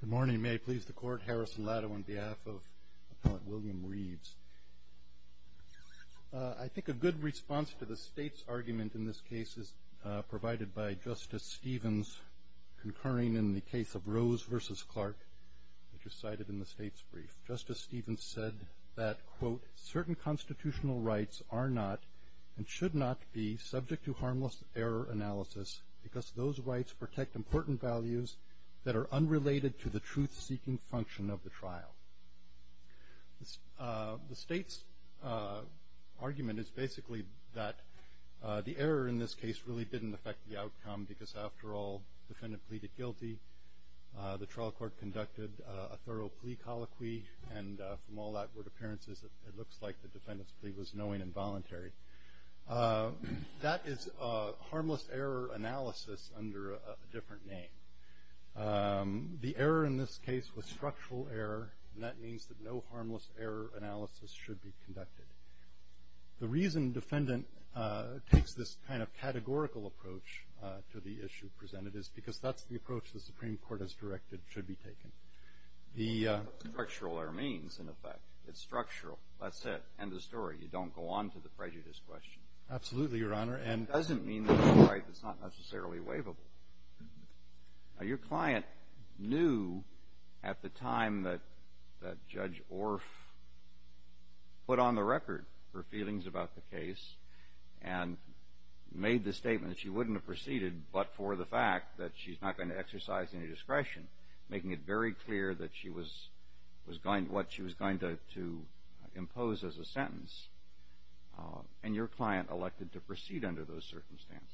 Good morning, may I please the court, Harrison Latow on behalf of Appellant William Reeves. I think a good response to the state's argument in this case is provided by Justice Stevens, concurring in the case of Rose v. Clark, which was cited in the state's brief. Justice Stevens said that, quote, certain constitutional rights are not and should not be subject to harmless error analysis because those rights protect important values that are unrelated to the truth-seeking function of the trial. The state's argument is basically that the error in this case really didn't affect the outcome because, after all, the defendant pleaded guilty, the trial court conducted a thorough plea colloquy, and from all outward appearances, it looks like the defendant's plea was knowing and voluntary. That is harmless error analysis under a different name. The error in this case was structural error, and that means that no harmless error analysis should be conducted. The reason defendant takes this kind of categorical approach to the issue presented is because that's the approach the Supreme Court has directed should be taken. The structural error means, in effect, it's structural. That's it. End of story. You don't go on to the prejudice question. Absolutely, Your Honor. It doesn't mean that it's a right that's not necessarily waivable. Now, your client knew at the time that Judge Orff put on the record her feelings about the case and made the statement that she wouldn't have proceeded but for the fact that she's not going to exercise any discretion, making it very clear what she was going to impose as a sentence, and your client elected to proceed under those circumstances.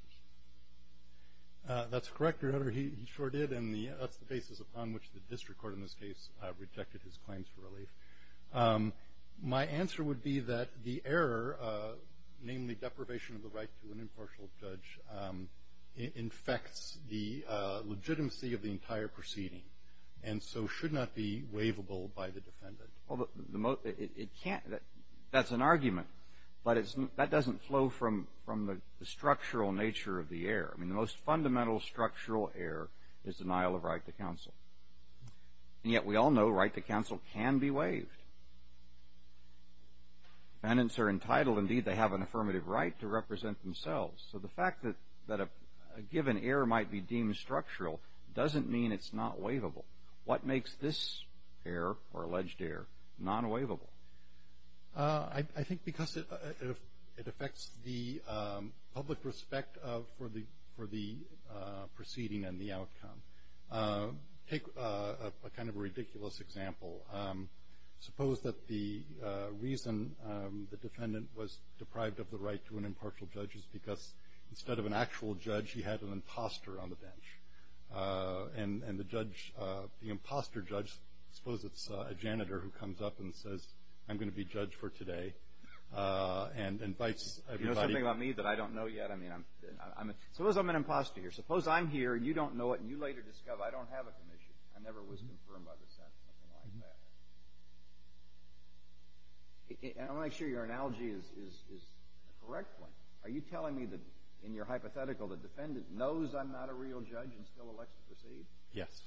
That's correct, Your Honor. He sure did, and that's the basis upon which the district court in this case rejected his claims for relief. My answer would be that the error, namely deprivation of the right to an impartial judge, infects the legitimacy of the entire proceeding and so should not be waivable by the defendant. Well, that's an argument, but that doesn't flow from the structural nature of the error. The most fundamental structural error is denial of right to counsel, and yet we all know right to counsel can be waived. Defendants are entitled. Indeed, they have an affirmative right to represent themselves. So the fact that a given error might be deemed structural doesn't mean it's not waivable. What makes this error or alleged error non-waivable? I think because it affects the public respect for the proceeding and the outcome. Take a kind of a ridiculous example. Suppose that the reason the defendant was deprived of the right to an impartial judge is because instead of an actual judge, he had an imposter on the bench. And the judge, the imposter judge, suppose it's a janitor who comes up and says, I'm going to be judge for today and invites everybody. You know something about me that I don't know yet? Suppose I'm an imposter here. Suppose I'm here, you don't know it, and you later discover I don't have a commission. I never was confirmed by the Senate or something like that. I want to make sure your analogy is a correct one. Are you telling me that, in your hypothetical, the defendant knows I'm not a real judge and still elects to proceed? Yes.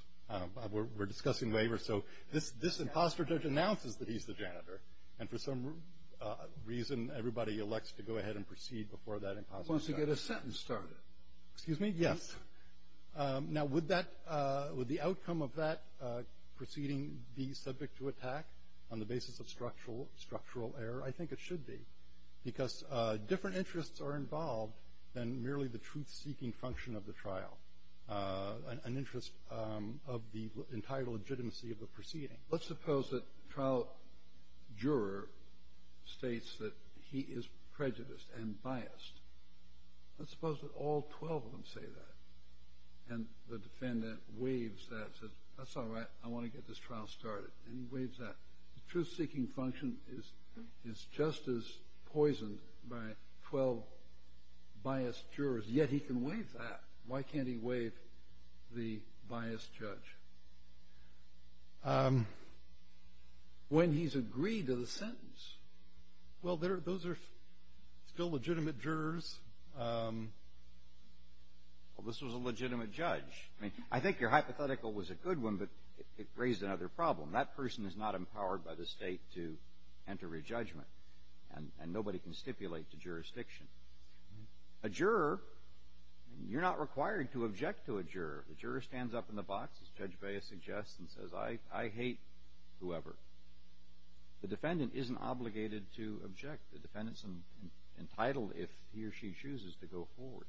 We're discussing waivers. So this imposter judge announces that he's the janitor, and for some reason everybody elects to go ahead and proceed before that imposter judge. Once you get a sentence started. Excuse me? Yes. Now, would that – would the outcome of that proceeding be subject to attack on the basis of structural error? I think it should be. Because different interests are involved than merely the truth-seeking function of the trial, an interest of the entire legitimacy of the proceeding. Let's suppose that the trial juror states that he is prejudiced and biased. Let's suppose that all 12 of them say that, and the defendant waives that, says that's all right, I want to get this trial started, and he waives that. The truth-seeking function is just as poisoned by 12 biased jurors, yet he can waive that. Why can't he waive the biased judge? When he's agreed to the sentence. Well, those are still legitimate jurors. Well, this was a legitimate judge. I mean, I think your hypothetical was a good one, but it raised another problem. That person is not empowered by the State to enter a judgment, and nobody can stipulate to jurisdiction. A juror, you're not required to object to a juror. The juror stands up in the box, as Judge Baez suggests, and says, I hate whoever. The defendant isn't obligated to object. The defendant's entitled, if he or she chooses, to go forward.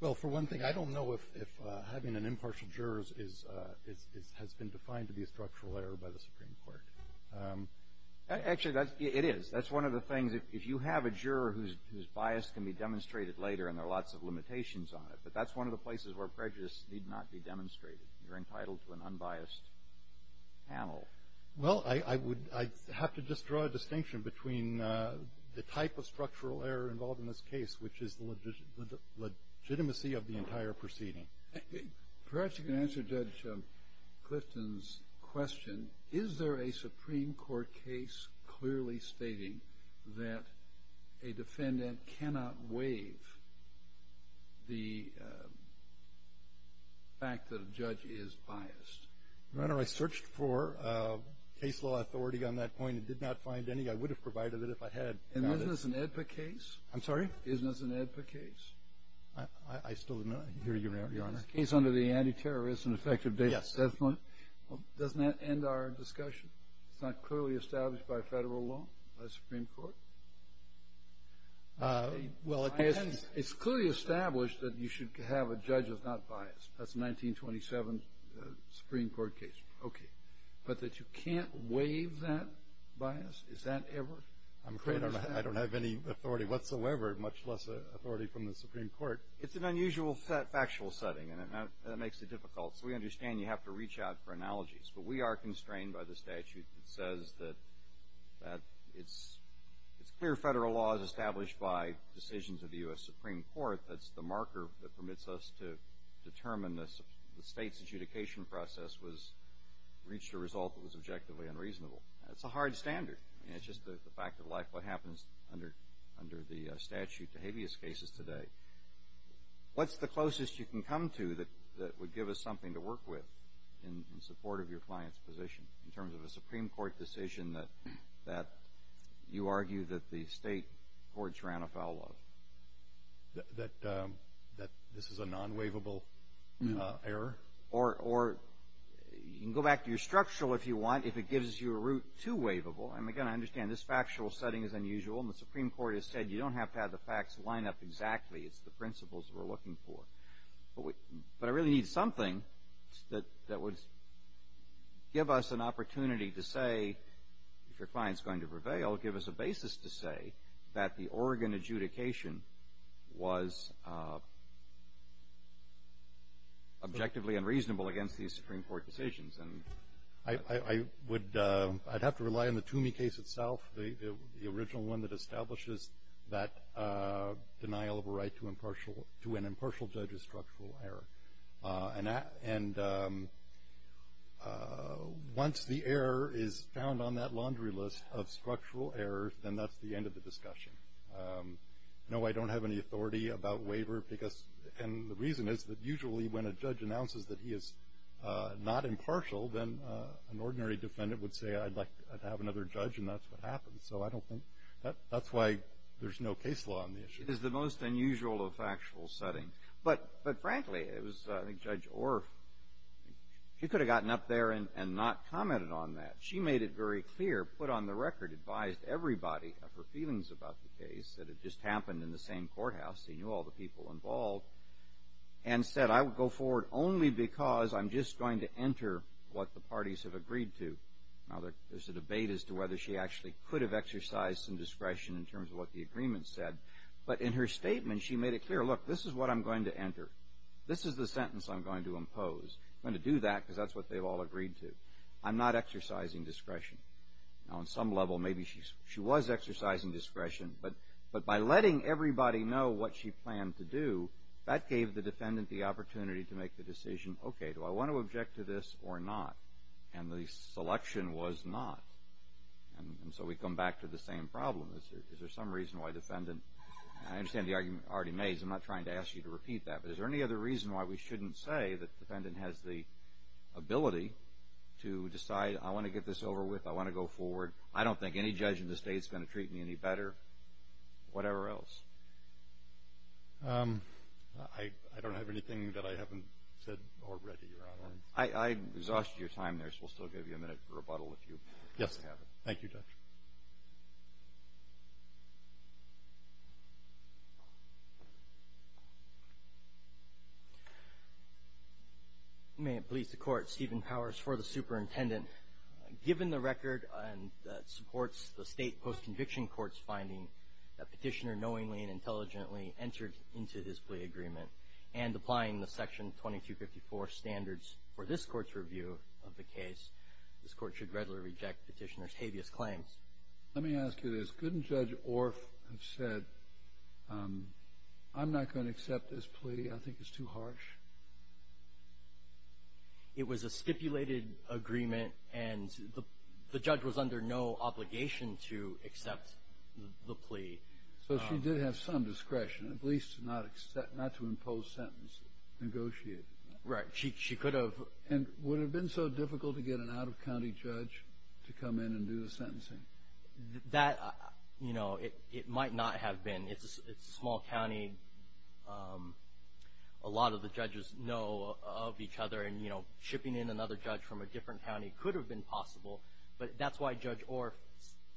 Well, for one thing, I don't know if having an impartial juror has been defined to be a structural error by the Supreme Court. Actually, it is. That's one of the things. If you have a juror whose bias can be demonstrated later, and there are lots of limitations on it, but that's one of the places where prejudice need not be demonstrated. You're entitled to an unbiased panel. Well, I would have to just draw a distinction between the type of structural error involved in this case, which is the legitimacy of the entire proceeding. Perhaps you can answer Judge Clifton's question. Is there a Supreme Court case clearly stating that a defendant cannot waive the fact that a judge is biased? Your Honor, I searched for a case law authority on that point and did not find any. I would have provided it if I had. And isn't this an AEDPA case? I'm sorry? Isn't this an AEDPA case? I still do not hear you, Your Honor. It's a case under the Anti-Terrorist and Effective Data Assessment. Yes. Well, doesn't that end our discussion? It's not clearly established by Federal law, by the Supreme Court? Well, it can be. It's clearly established that you should have a judge that's not biased. That's a 1927 Supreme Court case. Okay. But that you can't waive that bias, is that ever? I'm afraid I don't have any authority whatsoever, much less authority from the Supreme Court. It's an unusual factual setting, and that makes it difficult. So we understand you have to reach out for analogies. But we are constrained by the statute that says that it's clear Federal law is established by decisions of the U.S. Supreme Court. That's the marker that permits us to determine the State's adjudication process reached a result that was objectively unreasonable. That's a hard standard. It's just the fact of life, what happens under the statute to habeas cases today. What's the closest you can come to that would give us something to work with in support of your client's position in terms of a Supreme Court decision that you argue that the State courts ran afoul of? That this is a non-waivable error? Or you can go back to your structural if you want, if it gives you a route to waivable. And, again, I understand this factual setting is unusual. And the Supreme Court has said you don't have to have the facts line up exactly. It's the principles we're looking for. But I really need something that would give us an opportunity to say, if your client's going to prevail, give us a basis to say that the Oregon adjudication was objectively unreasonable against these Supreme Court decisions. I would have to rely on the Toomey case itself, the original one that establishes that denial of a right to an impartial judge's structural error. And once the error is found on that laundry list of structural errors, then that's the end of the discussion. No, I don't have any authority about waiver. And the reason is that usually when a judge announces that he is not impartial, then an ordinary defendant would say, I'd like to have another judge, and that's what happens. So I don't think that's why there's no case law on the issue. It is the most unusual of factual settings. But frankly, it was, I think, Judge Orff, she could have gotten up there and not commented on that. She made it very clear, put on the record, advised everybody of her feelings about the case, that it just happened in the same courthouse, she knew all the people involved, and said, I will go forward only because I'm just going to enter what the parties have agreed to. Now, there's a debate as to whether she actually could have exercised some discretion in terms of what the agreement said. But in her statement, she made it clear, look, this is what I'm going to enter. This is the sentence I'm going to impose. I'm going to do that because that's what they've all agreed to. I'm not exercising discretion. Now, on some level, maybe she was exercising discretion. But by letting everybody know what she planned to do, that gave the defendant the opportunity to make the decision, okay, do I want to object to this or not? And the selection was not. And so we come back to the same problem. Is there some reason why the defendant, and I understand the argument already made, because I'm not trying to ask you to repeat that, but is there any other reason why we shouldn't say that the defendant has the ability to decide, I want to get this over with, I want to go forward, I don't think any judge in this state is going to treat me any better, whatever else? I don't have anything that I haven't said already, Your Honor. I exhausted your time there, so we'll still give you a minute for rebuttal if you have it. Thank you, Judge. May it please the Court, Stephen Powers for the Superintendent. Given the record that supports the state post-conviction court's finding that Petitioner knowingly and intelligently entered into his plea agreement and applying the Section 2254 standards for this court's review of the case, this court should readily reject Petitioner's habeas claims. Let me ask you this. Couldn't Judge Orff have said, I'm not going to accept this plea, I think it's too harsh? It was a stipulated agreement, and the judge was under no obligation to accept the plea. So she did have some discretion, at least not to impose sentences, negotiate. Right. But she could have. And would it have been so difficult to get an out-of-county judge to come in and do the sentencing? That, you know, it might not have been. It's a small county. A lot of the judges know of each other, and, you know, shipping in another judge from a different county could have been possible. But that's why Judge Orff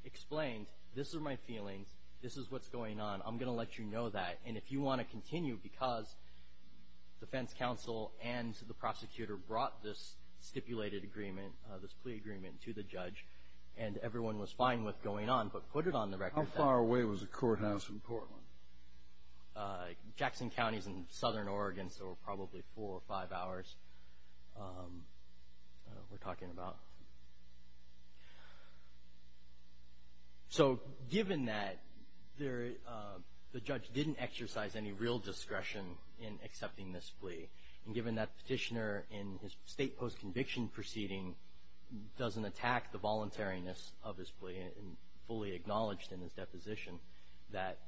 explained, this are my feelings, this is what's going on, I'm going to let you know that. And if you want to continue, because defense counsel and the prosecutor brought this stipulated agreement, this plea agreement to the judge, and everyone was fine with going on, but put it on the record. How far away was the courthouse in Portland? Jackson County is in southern Oregon, so probably four or five hours we're talking about. So given that the judge didn't exercise any real discretion in accepting this plea, and given that the petitioner in his state post-conviction proceeding doesn't attack the voluntariness of his plea, and fully acknowledged in his deposition that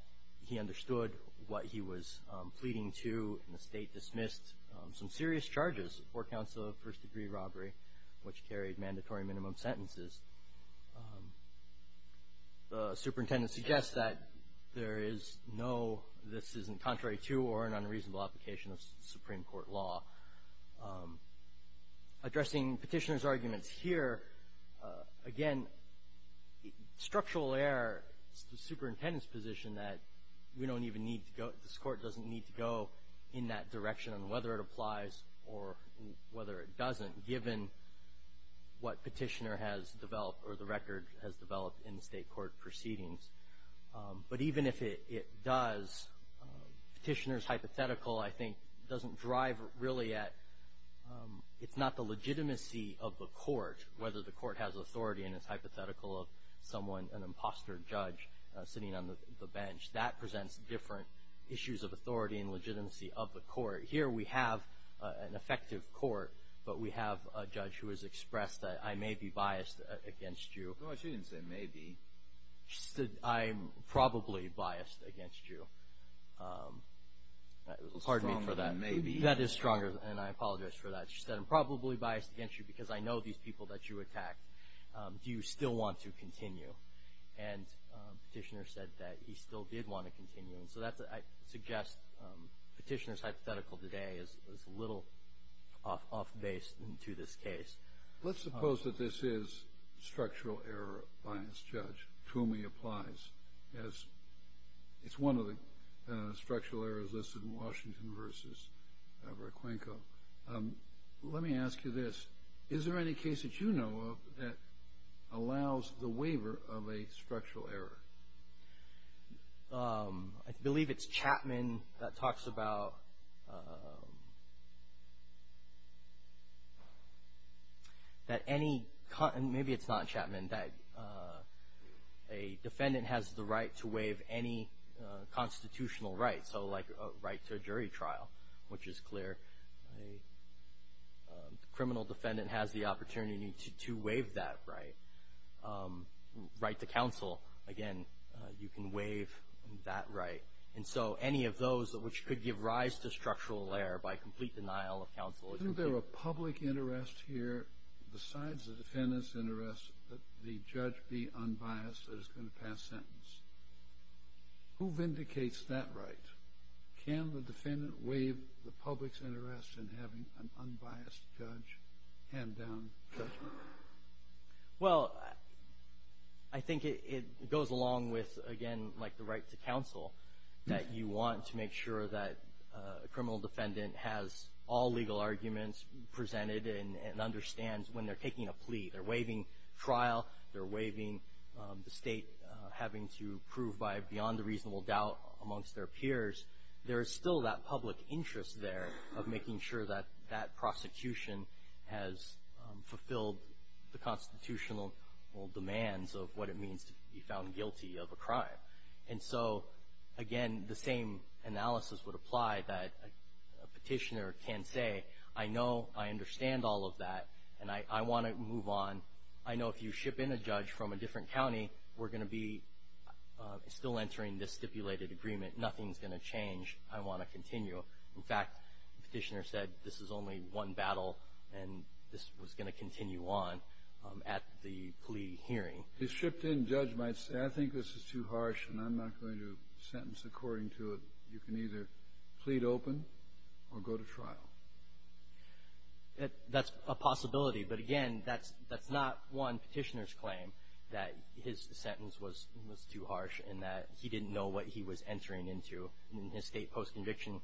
he understood what he was pleading to, and the state dismissed some serious charges for counsel of first-degree robbery, which carried mandatory minimum sentences, the superintendent suggests that there is no, this isn't contrary to or an unreasonable application of Supreme Court law. Addressing petitioner's arguments here, again, structural error, it's the superintendent's position that we don't even need to go, this court doesn't need to go in that direction on whether it applies or whether it doesn't, given what petitioner has developed or the record has developed in the state court proceedings. But even if it does, petitioner's hypothetical, I think, doesn't drive really at, it's not the legitimacy of the court, whether the court has authority and it's hypothetical of someone, an imposter judge, sitting on the bench. That presents different issues of authority and legitimacy of the court. Here we have an effective court, but we have a judge who has expressed that I may be biased against you. No, she didn't say maybe. She said I'm probably biased against you. Well, stronger than maybe. That is stronger, and I apologize for that. She said I'm probably biased against you because I know these people that you attacked. Do you still want to continue? And petitioner said that he still did want to continue. So I suggest petitioner's hypothetical today is a little off base to this case. Let's suppose that this is structural error by this judge to whom he applies. It's one of the structural errors listed in Washington v. Raquenco. Let me ask you this. Is there any case that you know of that allows the waiver of a structural error? I believe it's Chapman that talks about that any, maybe it's not Chapman, that a defendant has the right to waive any constitutional right, so like a right to a jury trial, which is clear. A criminal defendant has the opportunity to waive that right. Right to counsel, again, you can waive that right. And so any of those which could give rise to structural error by complete denial of counsel. Isn't there a public interest here besides the defendant's interest that the judge be unbiased that is going to pass sentence? Who vindicates that right? Can the defendant waive the public's interest in having an unbiased judge hand down judgment? Well, I think it goes along with, again, like the right to counsel, that you want to make sure that a criminal defendant has all legal arguments presented and understands when they're taking a plea, they're waiving trial, they're waiving the state having to prove by beyond a reasonable doubt amongst their peers. There is still that public interest there of making sure that that prosecution has fulfilled the constitutional demands of what it means to be found guilty of a crime. And so, again, the same analysis would apply that a petitioner can say, I know, I understand all of that, and I want to move on. I know if you ship in a judge from a different county, we're going to be still entering this stipulated agreement. Nothing's going to change. I want to continue. In fact, the petitioner said this is only one battle, and this was going to continue on at the plea hearing. If a shipped in judge might say, I think this is too harsh, and I'm not going to sentence according to it, you can either plead open or go to trial. That's a possibility. But, again, that's not one petitioner's claim that his sentence was too harsh and that he didn't know what he was entering into in his state post-conviction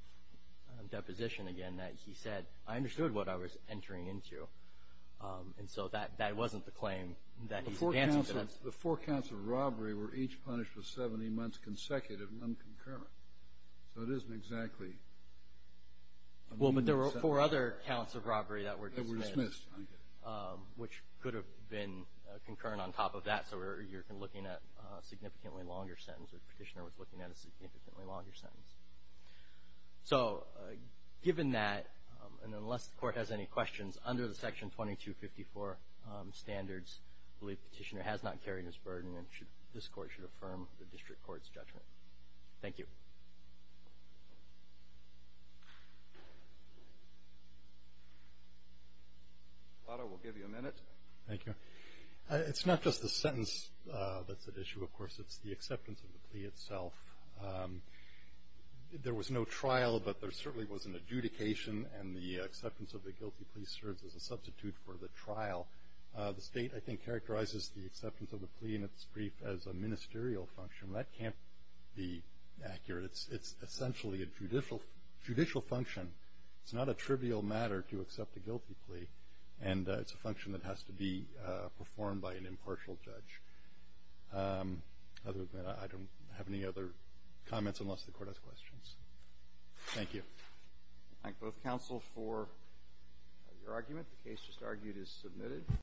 deposition, again, that he said, I understood what I was entering into. And so that wasn't the claim that he's advancing. The four counts of robbery were each punished with 70 months consecutive and unconcurrent. So it isn't exactly. Well, but there were four other counts of robbery that were dismissed. That were dismissed. Which could have been concurrent on top of that. So you're looking at a significantly longer sentence. The petitioner was looking at a significantly longer sentence. So given that, and unless the Court has any questions, under the Section 2254 standards, I believe the petitioner has not carried this burden and this Court should affirm the district court's judgment. Thank you. Plotter, we'll give you a minute. Thank you. It's the acceptance of the plea itself. There was no trial, but there certainly was an adjudication, and the acceptance of the guilty plea serves as a substitute for the trial. The state, I think, characterizes the acceptance of the plea in its brief as a ministerial function. That can't be accurate. It's essentially a judicial function. It's not a trivial matter to accept a guilty plea. And it's a function that has to be performed by an impartial judge. Other than that, I don't have any other comments unless the Court has questions. Thank you. I thank both counsel for your argument. The case just argued is submitted.